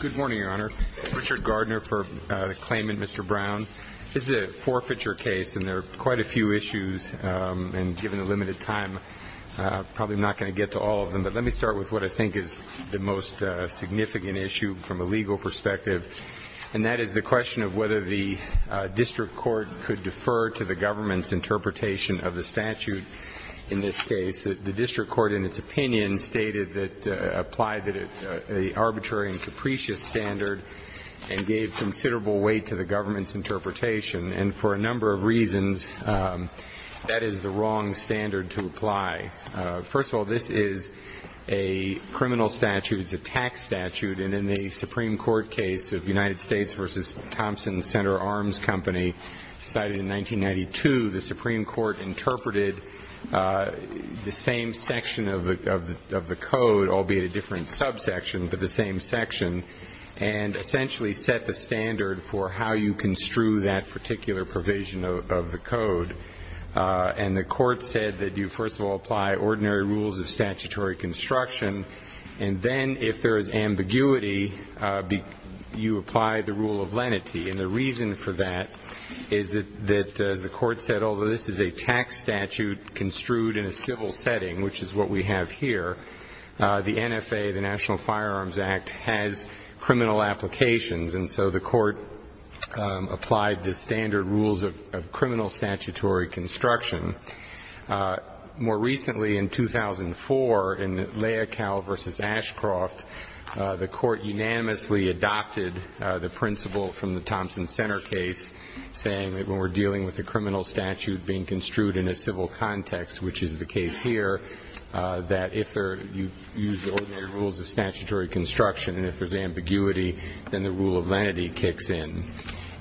Good morning, Your Honor. Richard Gardner for the claimant, Mr. Brown. This is a forfeiture case, and there are quite a few issues, and given the limited time, I'm probably not going to get to all of them, but let me start with what I think is the most significant issue from a legal perspective, and that is the question of whether the district court could defer to the government's interpretation of the statute in this case. The district court, in its opinion, stated that it applied an arbitrary and capricious standard and gave considerable weight to the government's interpretation, and for a number of reasons, that is the wrong standard to apply. First of all, this is a criminal statute. It's a tax statute, and in the Supreme Court case of United States v. Thompson & Center Arms Company, decided in 1992, the Supreme Court interpreted the same section of the code, albeit a different subsection, but the same section, and essentially set the standard for how you construe that particular provision of the code. And the court said that you, first of all, apply ordinary rules of statutory construction, and then, if there is ambiguity, you apply the rule of lenity, and the reason for that is that, as the court said, although this is a tax statute construed in a civil setting, which is what we have here, the NFA, the National Firearms Act, has criminal applications, and so the court applied the standard rules of criminal statutory construction. More recently, in 2004, in Leocal v. Ashcroft, the court unanimously adopted the principle from the Thompson Center case, saying that when we're dealing with a criminal statute being construed in a civil context, which is the case here, that if you use ordinary rules of statutory construction, and if there's ambiguity, then the rule of lenity kicks in.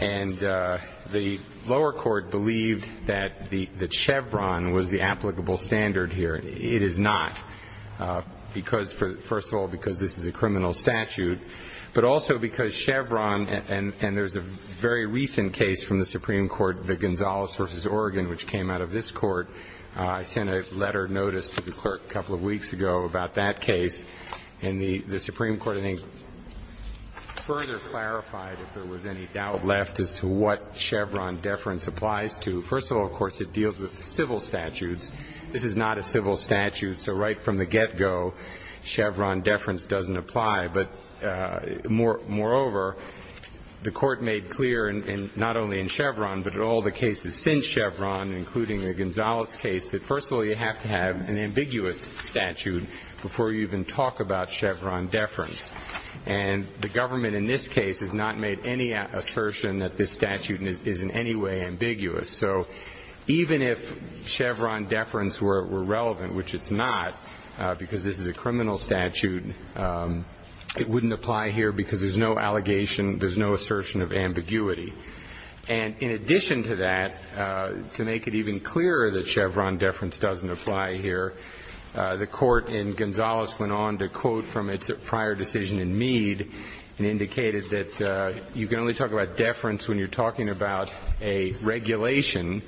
And the lower court believed that Chevron was the applicable standard here. It is not, because, first of all, because this is a criminal statute, but also because Chevron, and there's a very recent case from the Supreme Court, the Gonzales v. Oregon, which came out of this court. I sent a letter of notice to the clerk a couple of weeks ago about that case, and the Supreme Court, I think, further clarified, if there was any doubt left, as to what Chevron deference applies to. First of all, of course, it deals with civil statutes. This is not a civil statute, so right from the get-go, Chevron deference doesn't apply. But, moreover, the court made clear, not only in Chevron, but in all the cases since Chevron, including the Gonzales case, that, first of all, you have to have an ambiguous statute before you even talk about Chevron deference. And the government in this case has not made any assertion that this statute is in any way ambiguous. So even if Chevron deference were relevant, which it's not, because this is a criminal statute, it wouldn't apply here because there's no allegation, there's no assertion of ambiguity. And, in addition to that, to make it even clearer that Chevron deference doesn't apply here, the court in Gonzales went on to quote from its prior decision in Mead and indicated that you can only talk about deference when you're talking about a regulation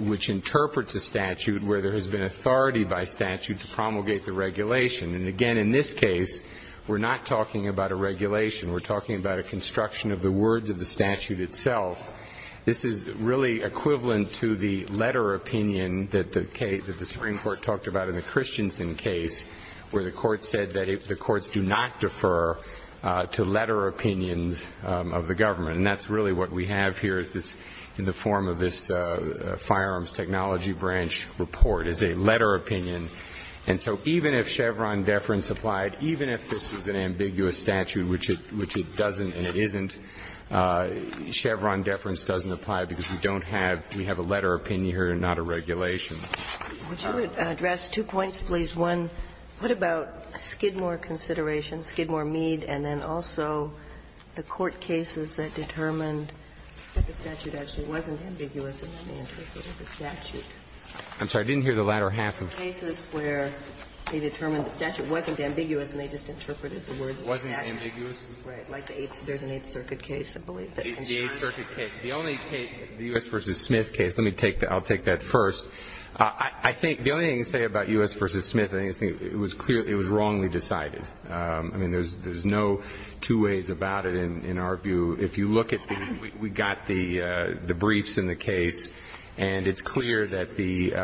which interprets a statute where there has been authority by statute to promulgate the regulation. And, again, in this case, we're not talking about a regulation. We're talking about a construction of the words of the statute itself. This is really equivalent to the letter opinion that the Supreme Court talked about in the Christensen case, where the court said that the courts do not defer to letter opinions of the government. And that's really what we have here in the form of this firearms technology branch report, is a letter opinion. And so even if Chevron deference applied, even if this is an ambiguous statute, which it doesn't and it isn't, Chevron deference doesn't apply because we don't have we have a letter opinion here and not a regulation. Ginsburg. Would you address two points, please? One, what about Skidmore considerations, Skidmore-Mead, and then also the court cases that determined that the statute actually wasn't ambiguous in the interpretation of the statute? I'm sorry. I didn't hear the latter half of it. The court cases where they determined the statute wasn't ambiguous and they just interpreted the words of the statute. Wasn't ambiguous? Right. Like the Eighth Circuit case, I believe. The Eighth Circuit case. The only case, the U.S. v. Smith case, let me take that. I'll take that first. I think the only thing to say about U.S. v. Smith, I think it was clear it was wrongly decided. I mean, there's no two ways about it in our view. If you look at the we got the briefs in the case, and it's clear that the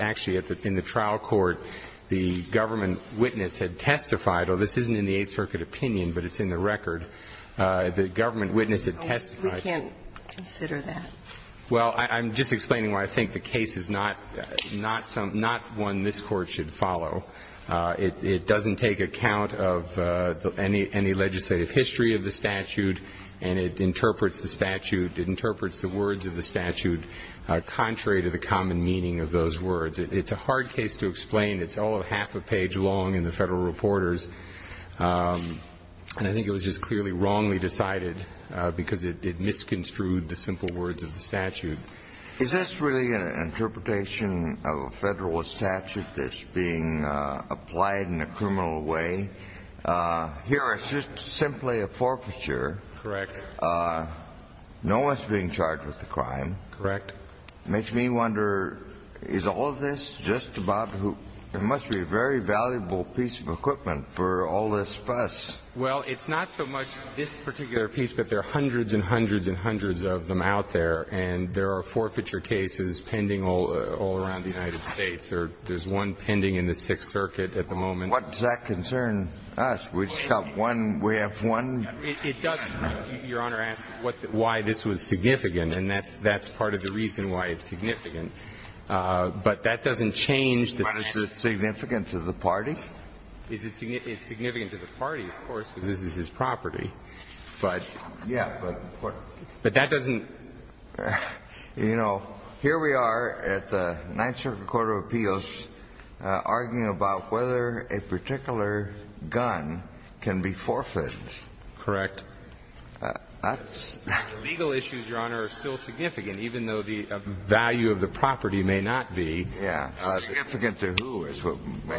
actually in the trial court, the government witness had testified. Oh, this isn't in the Eighth Circuit opinion, but it's in the record. The government witness had testified. We can't consider that. Well, I'm just explaining why I think the case is not one this Court should follow. It doesn't take account of any legislative history of the statute, and it interprets the statute, it interprets the words of the statute contrary to the common meaning of those words. It's a hard case to explain. It's all half a page long in the federal reporters, and I think it was just clearly wrongly decided because it misconstrued the simple words of the statute. Is this really an interpretation of a federal statute that's being applied in a criminal way? Here, it's just simply a forfeiture. Correct. No one's being charged with the crime. Correct. It makes me wonder, is all of this just about who? There must be a very valuable piece of equipment for all this fuss. Well, it's not so much this particular piece, but there are hundreds and hundreds and hundreds of them out there, and there are forfeiture cases pending all around the United States. There's one pending in the Sixth Circuit at the moment. What does that concern us? We just got one. We have one. It does, Your Honor, ask why this was significant, and that's part of the reason why it's significant. But that doesn't change the sense. But is it significant to the party? It's significant to the party, of course, because this is his property. But that doesn't. You know, here we are at the Ninth Circuit Court of Appeals arguing about whether a particular gun can be forfeited. Correct. Legal issues, Your Honor, are still significant, even though the value of the property may not be. Yeah. Significant to who?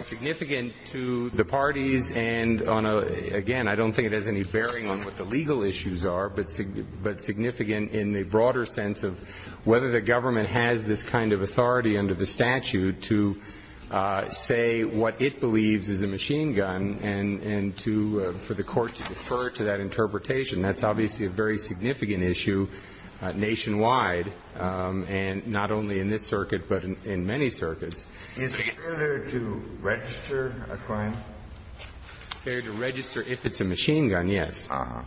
Significant to the parties and on a — again, I don't think it has any bearing on what the legal issues are, but significant in the broader sense of whether the government has this kind of authority under the statute to say what it believes is a machine gun and to — for the court to defer to that interpretation. That's obviously a very significant issue nationwide, and not only in this circuit, but in many circuits. Is it fair to register a crime? Fair to register if it's a machine gun, yes. Uh-huh.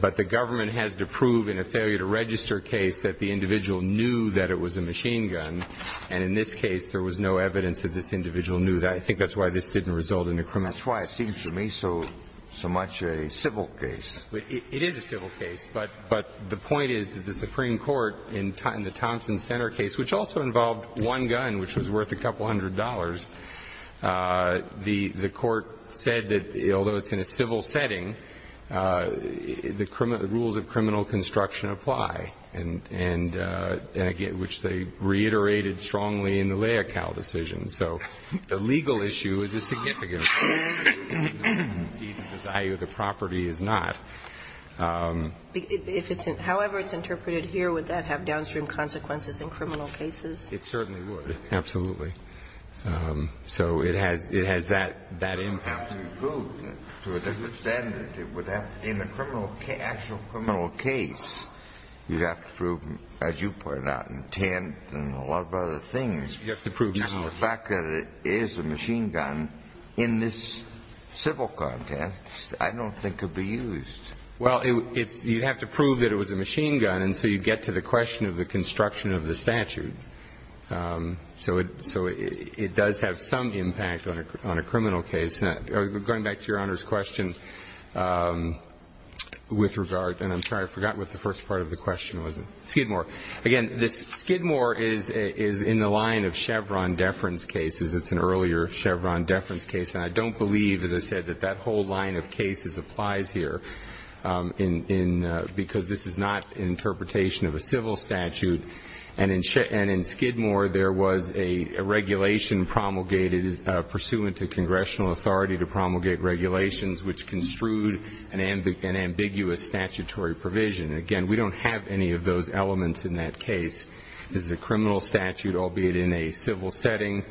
But the government has to prove in a failure-to-register case that the individual knew that it was a machine gun, and in this case there was no evidence that this individual knew that. I think that's why this didn't result in a criminal case. That's why it seems to me so much a civil case. It is a civil case, but the point is that the Supreme Court in the Thompson-Center case, which also involved one gun, which was worth a couple hundred dollars, the court said that, although it's in a civil setting, the rules of criminal construction apply, and again, which they reiterated strongly in the Leocal decision. So the legal issue is a significant issue. The value of the property is not. If it's — however it's interpreted here, would that have downstream consequences in criminal cases? It certainly would, absolutely. So it has — it has that impact. It would have to be proved to a certain extent. It would have — in the criminal — actual criminal case, you'd have to prove, as you pointed out, intent and a lot of other things. You'd have to prove — Now, the fact that it is a machine gun in this civil context, I don't think it would be used. Well, it's — you'd have to prove that it was a machine gun, and so you'd get to the question of the construction of the statute. So it — so it does have some impact on a criminal case. Going back to Your Honor's question, with regard — and I'm sorry, I forgot what the first part of the question was. Skidmore. Again, this — Skidmore is in the line of Chevron deference cases. It's an earlier Chevron deference case. And I don't believe, as I said, that that whole line of cases applies here in — because this is not an interpretation of a civil statute. And in Skidmore, there was a regulation promulgated pursuant to congressional authority to promulgate regulations which construed an ambiguous statutory provision. Again, we don't have any of those elements in that case. This is a criminal statute, albeit in a civil setting,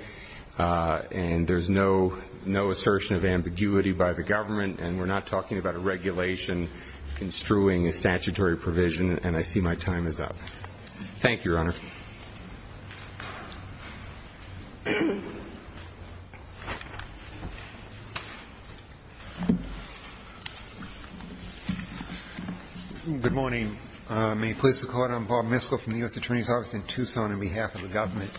and there's no assertion of ambiguity by the government. And we're not talking about a regulation construing a statutory provision. And I see my time is up. Thank you, Your Honor. Good morning. May it please the Court. I'm Bob Miskell from the U.S. Attorney's Office in Tucson on behalf of the government.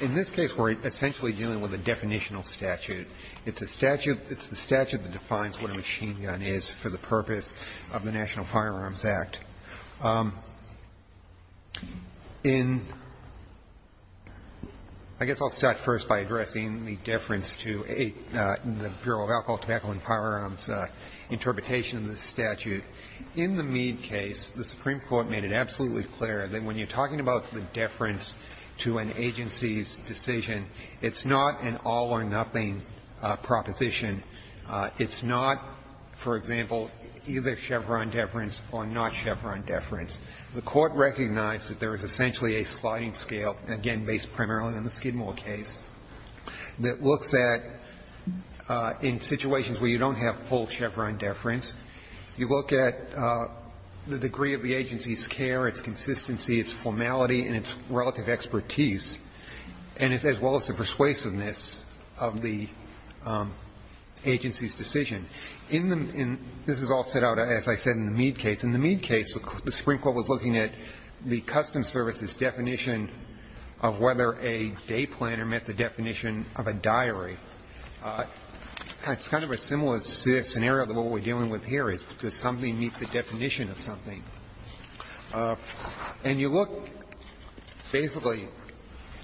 In this case, we're essentially dealing with a definitional statute. It's a statute — it's the statute that defines what a machine gun is for the purpose of the National Firearms Act. In — I guess I'll start first by addressing the deference to the Bureau of Alcohol, Tobacco, and Firearms' interpretation of the statute. In the Meade case, the Supreme Court made it absolutely clear that when you're talking about the deference to an agency's decision, it's not an all-or-nothing proposition. It's not, for example, either Chevron deference or not Chevron deference. The Court recognized that there is essentially a sliding scale, again, based primarily on the Skidmore case, that looks at, in situations where you don't have full Chevron deference, you look at the degree of the agency's care, its consistency, its formality, and its relative expertise, and as well as the persuasiveness of the agency's decision. In the — this is all set out, as I said, in the Meade case. In the Meade case, the Supreme Court was looking at the Customs Service's definition of whether a day planner met the definition of a diary. It's kind of a similar scenario to what we're dealing with here, is does something meet the definition of something. And you look, basically,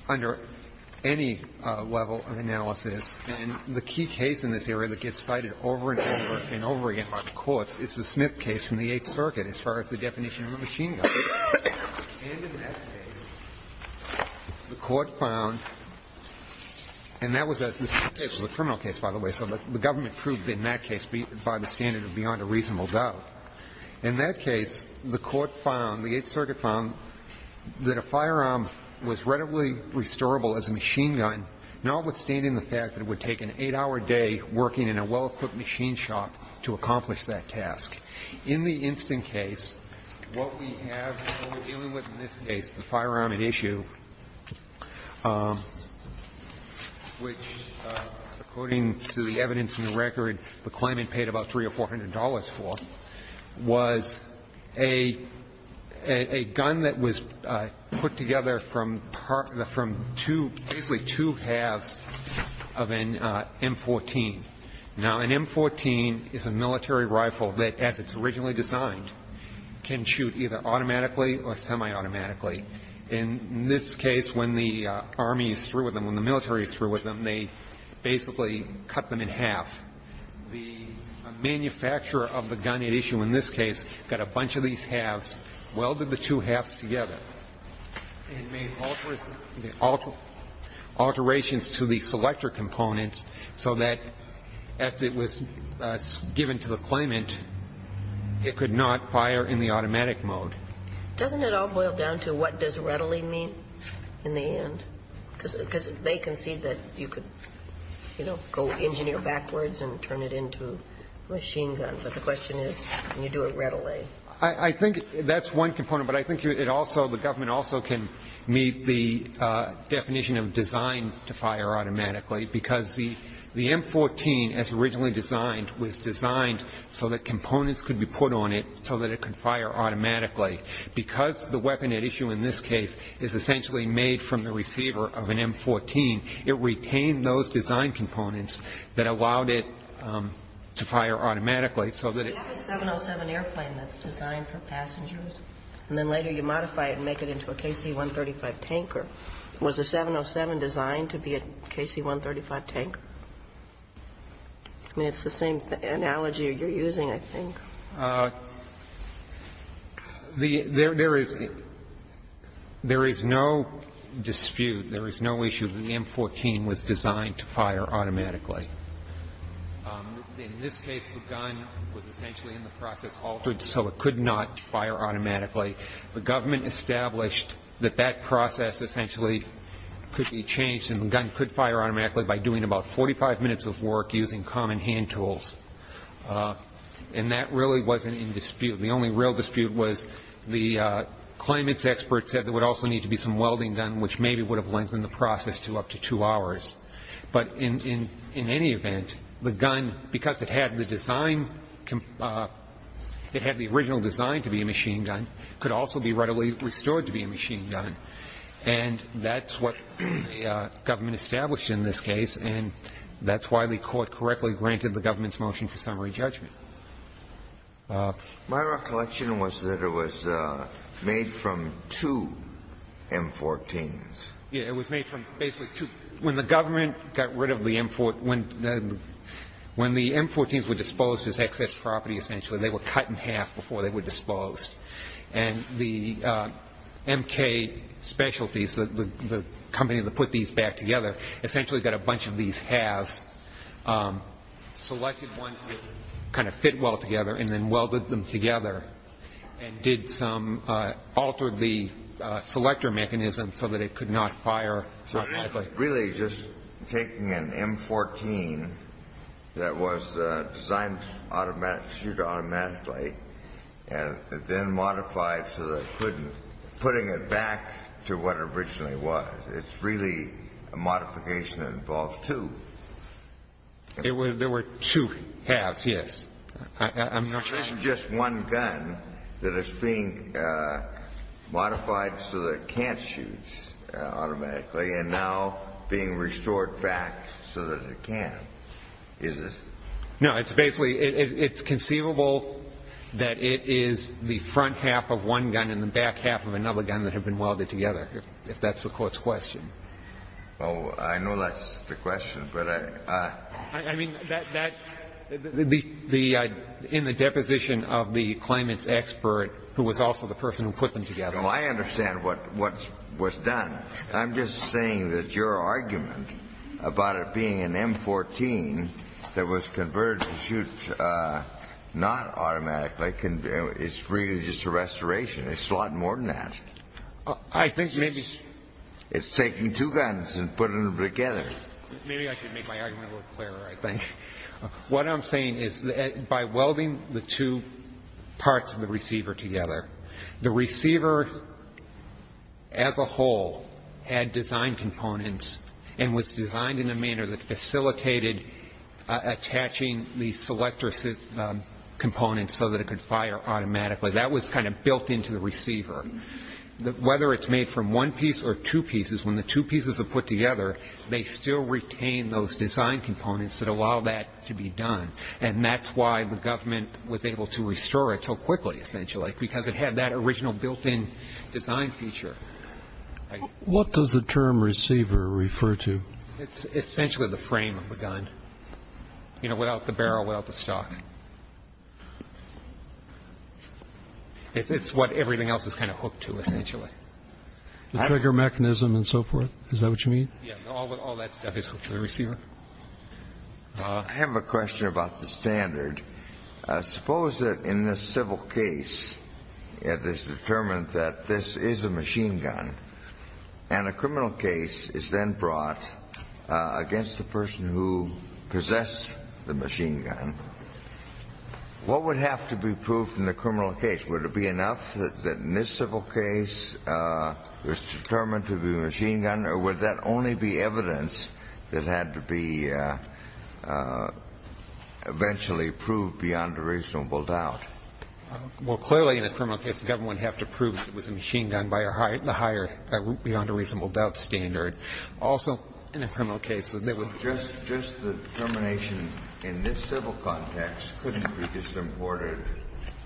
under any level of analysis, and the key case in this area that gets cited over and over and over again by the courts is the Smith case from the Eighth Circuit as far as the definition of a machine gun. And in that case, the Court found — and that was a — the Smith case was a criminal case, by the way, so the government proved in that case, by the standard of beyond a reasonable doubt. In that case, the Court found, the Eighth Circuit found, that a firearm was readily restorable as a machine gun, notwithstanding the fact that it would take an eight-hour day working in a well-equipped machine shop to accomplish that task. In the Instant case, what we have when we're dealing with, in this case, the firearm at issue, which, according to the evidence in the record, the claimant paid about $300 or $400 for, was a gun that was put together from two — basically two halves of an M14. Now, an M14 is a military rifle that, as it's originally designed, can shoot either automatically or semi-automatically. In this case, when the Army is through with them, when the military is through with them, they basically cut them in half. The manufacturer of the gun at issue in this case got a bunch of these halves, welded the two halves together and made alterations to the selector components so that, as it was given to the claimant, it could not fire in the automatic mode. Doesn't it all boil down to what does readily mean in the end? Because they concede that you could, you know, go engineer backwards and turn it into a machine gun. But the question is, can you do it readily? I think that's one component, but I think it also — the government also can meet the definition of designed to fire automatically, because the M14, as originally designed, was designed so that components could be put on it so that it could fire automatically. Because the weapon at issue in this case is essentially made from the receiver of an M14, it retained those design components that allowed it to fire automatically so that it — The 707 airplane that's designed for passengers, and then later you modify it and make it into a KC-135 tanker. Was the 707 designed to be a KC-135 tanker? I mean, it's the same analogy you're using, I think. There is no dispute, there is no issue that the M14 was designed to fire automatically. In this case, the gun was essentially in the process altered so it could not fire automatically. The government established that that process essentially could be changed, and the gun could fire automatically by doing about 45 minutes of work using common hand tools. And that really wasn't in dispute. The only real dispute was the claimants' experts said there would also need to be some welding gun, which maybe would have lengthened the process to up to two hours. But in any event, the gun, because it had the design — it had the original design to be a machine gun, could also be readily restored to be a machine gun. And that's what the government established in this case, and that's why the Court correctly granted the government's motion for summary judgment. My recollection was that it was made from two M14s. Yeah, it was made from basically two. When the government got rid of the M14s — when the M14s were disposed as excess property, essentially, they were cut in half before they were disposed. And the MK Specialties, the company that put these back together, essentially got a bunch of these halves, selected ones that kind of fit well together, and then welded them together and did some — altered the selector mechanism so that it could not fire automatically. Really just taking an M14 that was designed to shoot automatically and then modified so that it couldn't — putting it back to what it originally was. It's really a modification that involves two. There were two halves, yes. I'm not sure. So this is just one gun that is being modified so that it can't shoot automatically and now being restored back so that it can. Is it? No. It's basically — it's conceivable that it is the front half of one gun and the back half of another gun that have been welded together, if that's the Court's question. Oh, I know that's the question, but I — I mean, that — in the deposition of the claimant's expert, who was also the person who put them together. Well, I understand what was done. I'm just saying that your argument about it being an M14 that was converted to shoot not automatically, it's really just a restoration. It's a lot more than that. I think maybe — It's taking two guns and putting them together. Maybe I should make my argument a little clearer, I think. What I'm saying is that by welding the two parts of the receiver together, the receiver as a whole had design components and was designed in a manner that facilitated attaching the selector components so that it could fire automatically. That was kind of built into the receiver. Whether it's made from one piece or two pieces, when the two pieces are put together, they still retain those design components that allow that to be done. And that's why the government was able to restore it so quickly, essentially, because it had that original built-in design feature. What does the term receiver refer to? It's essentially the frame of the gun, you know, without the barrel, without the stock. It's what everything else is kind of hooked to, essentially. The trigger mechanism and so forth? Is that what you mean? Yeah. All that stuff is hooked to the receiver. I have a question about the standard. Suppose that in this civil case, it is determined that this is a machine gun, and a criminal case is then brought against the person who possessed the machine gun, what would have to be proved in the criminal case? Would it be enough that in this civil case it was determined to be a machine gun, or would that only be evidence that had to be eventually proved beyond a reasonable doubt? Well, clearly in a criminal case, the government would have to prove that it was a machine gun by the higher beyond a reasonable doubt standard. Also, in a criminal case, there would be... So just the determination in this civil context couldn't be disimported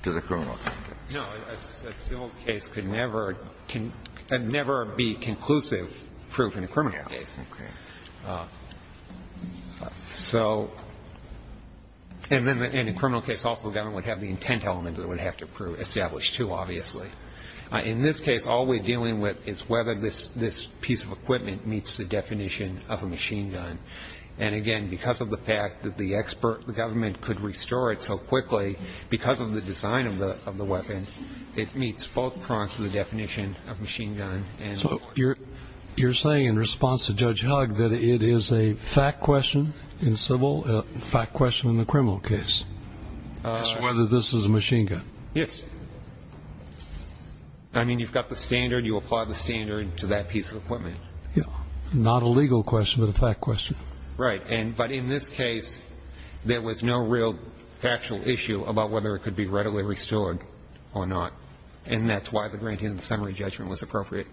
to the criminal context? No. A civil case could never be conclusive proof in a criminal case. Okay. So, and in a criminal case, also the government would have the intent element that it would have to establish, too, obviously. In this case, all we're dealing with is whether this piece of equipment meets the definition of a machine gun. And again, because of the fact that the government could restore it so quickly, because of the design of the weapon, it meets both fronts of the definition of a machine gun. So you're saying in response to Judge Hugg that it is a fact question in civil, a fact question in the criminal case, as to whether this is a machine gun? Yes. I mean, you've got the standard, you apply the standard to that piece of equipment. Yeah. Not a legal question, but a fact question. Right. But in this case, there was no real factual issue about whether it could be readily restored or not. And that's why the granting of the summary judgment was appropriate.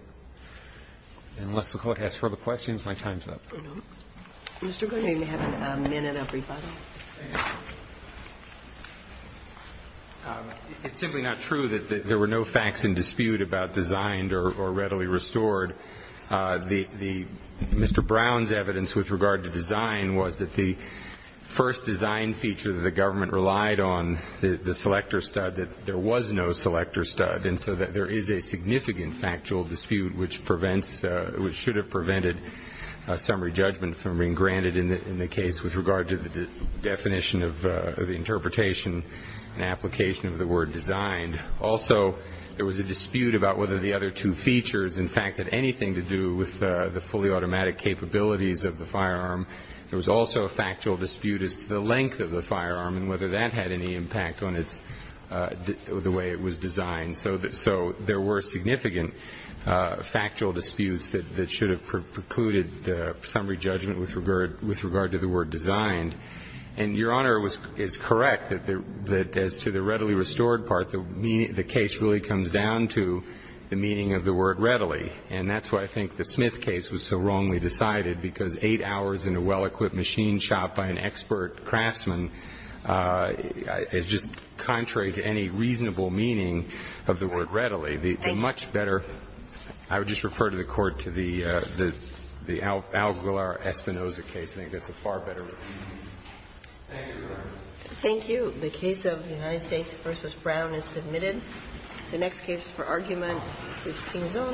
Unless the Court has further questions, my time's up. Mr. Gould, you may have a minute of rebuttal. It's simply not true that there were no facts in dispute about designed or readily restored. Mr. Brown's evidence with regard to design was that the first design feature that the government relied on, the selector stud, that there was no selector stud. And so there is a significant factual dispute which prevents, which should have prevented a summary judgment from being granted in the case with regard to the definition of the interpretation and application of the word designed. Also, there was a dispute about whether the other two features, in fact, had anything to do with the fully automatic capabilities of the firearm. There was also a factual dispute as to the length of the firearm and whether that had any impact on the way it was designed. So there were significant factual disputes that should have precluded the summary judgment with regard to the word designed. And Your Honor is correct that as to the readily restored part, the case really comes down to the meaning of the word readily. And that's why I think the Smith case was so wrongly decided because 8 hours in a well-equipped machine shop by an expert craftsman is just contrary to any reasonable meaning of the word readily. The much better... I would just refer to the court to the Alguilar-Espinoza case. I think that's a far better... Thank you, Your Honor. Thank you. The case of United States v. Brown is submitted. The next case for argument is Pinzon v. Gonzalez.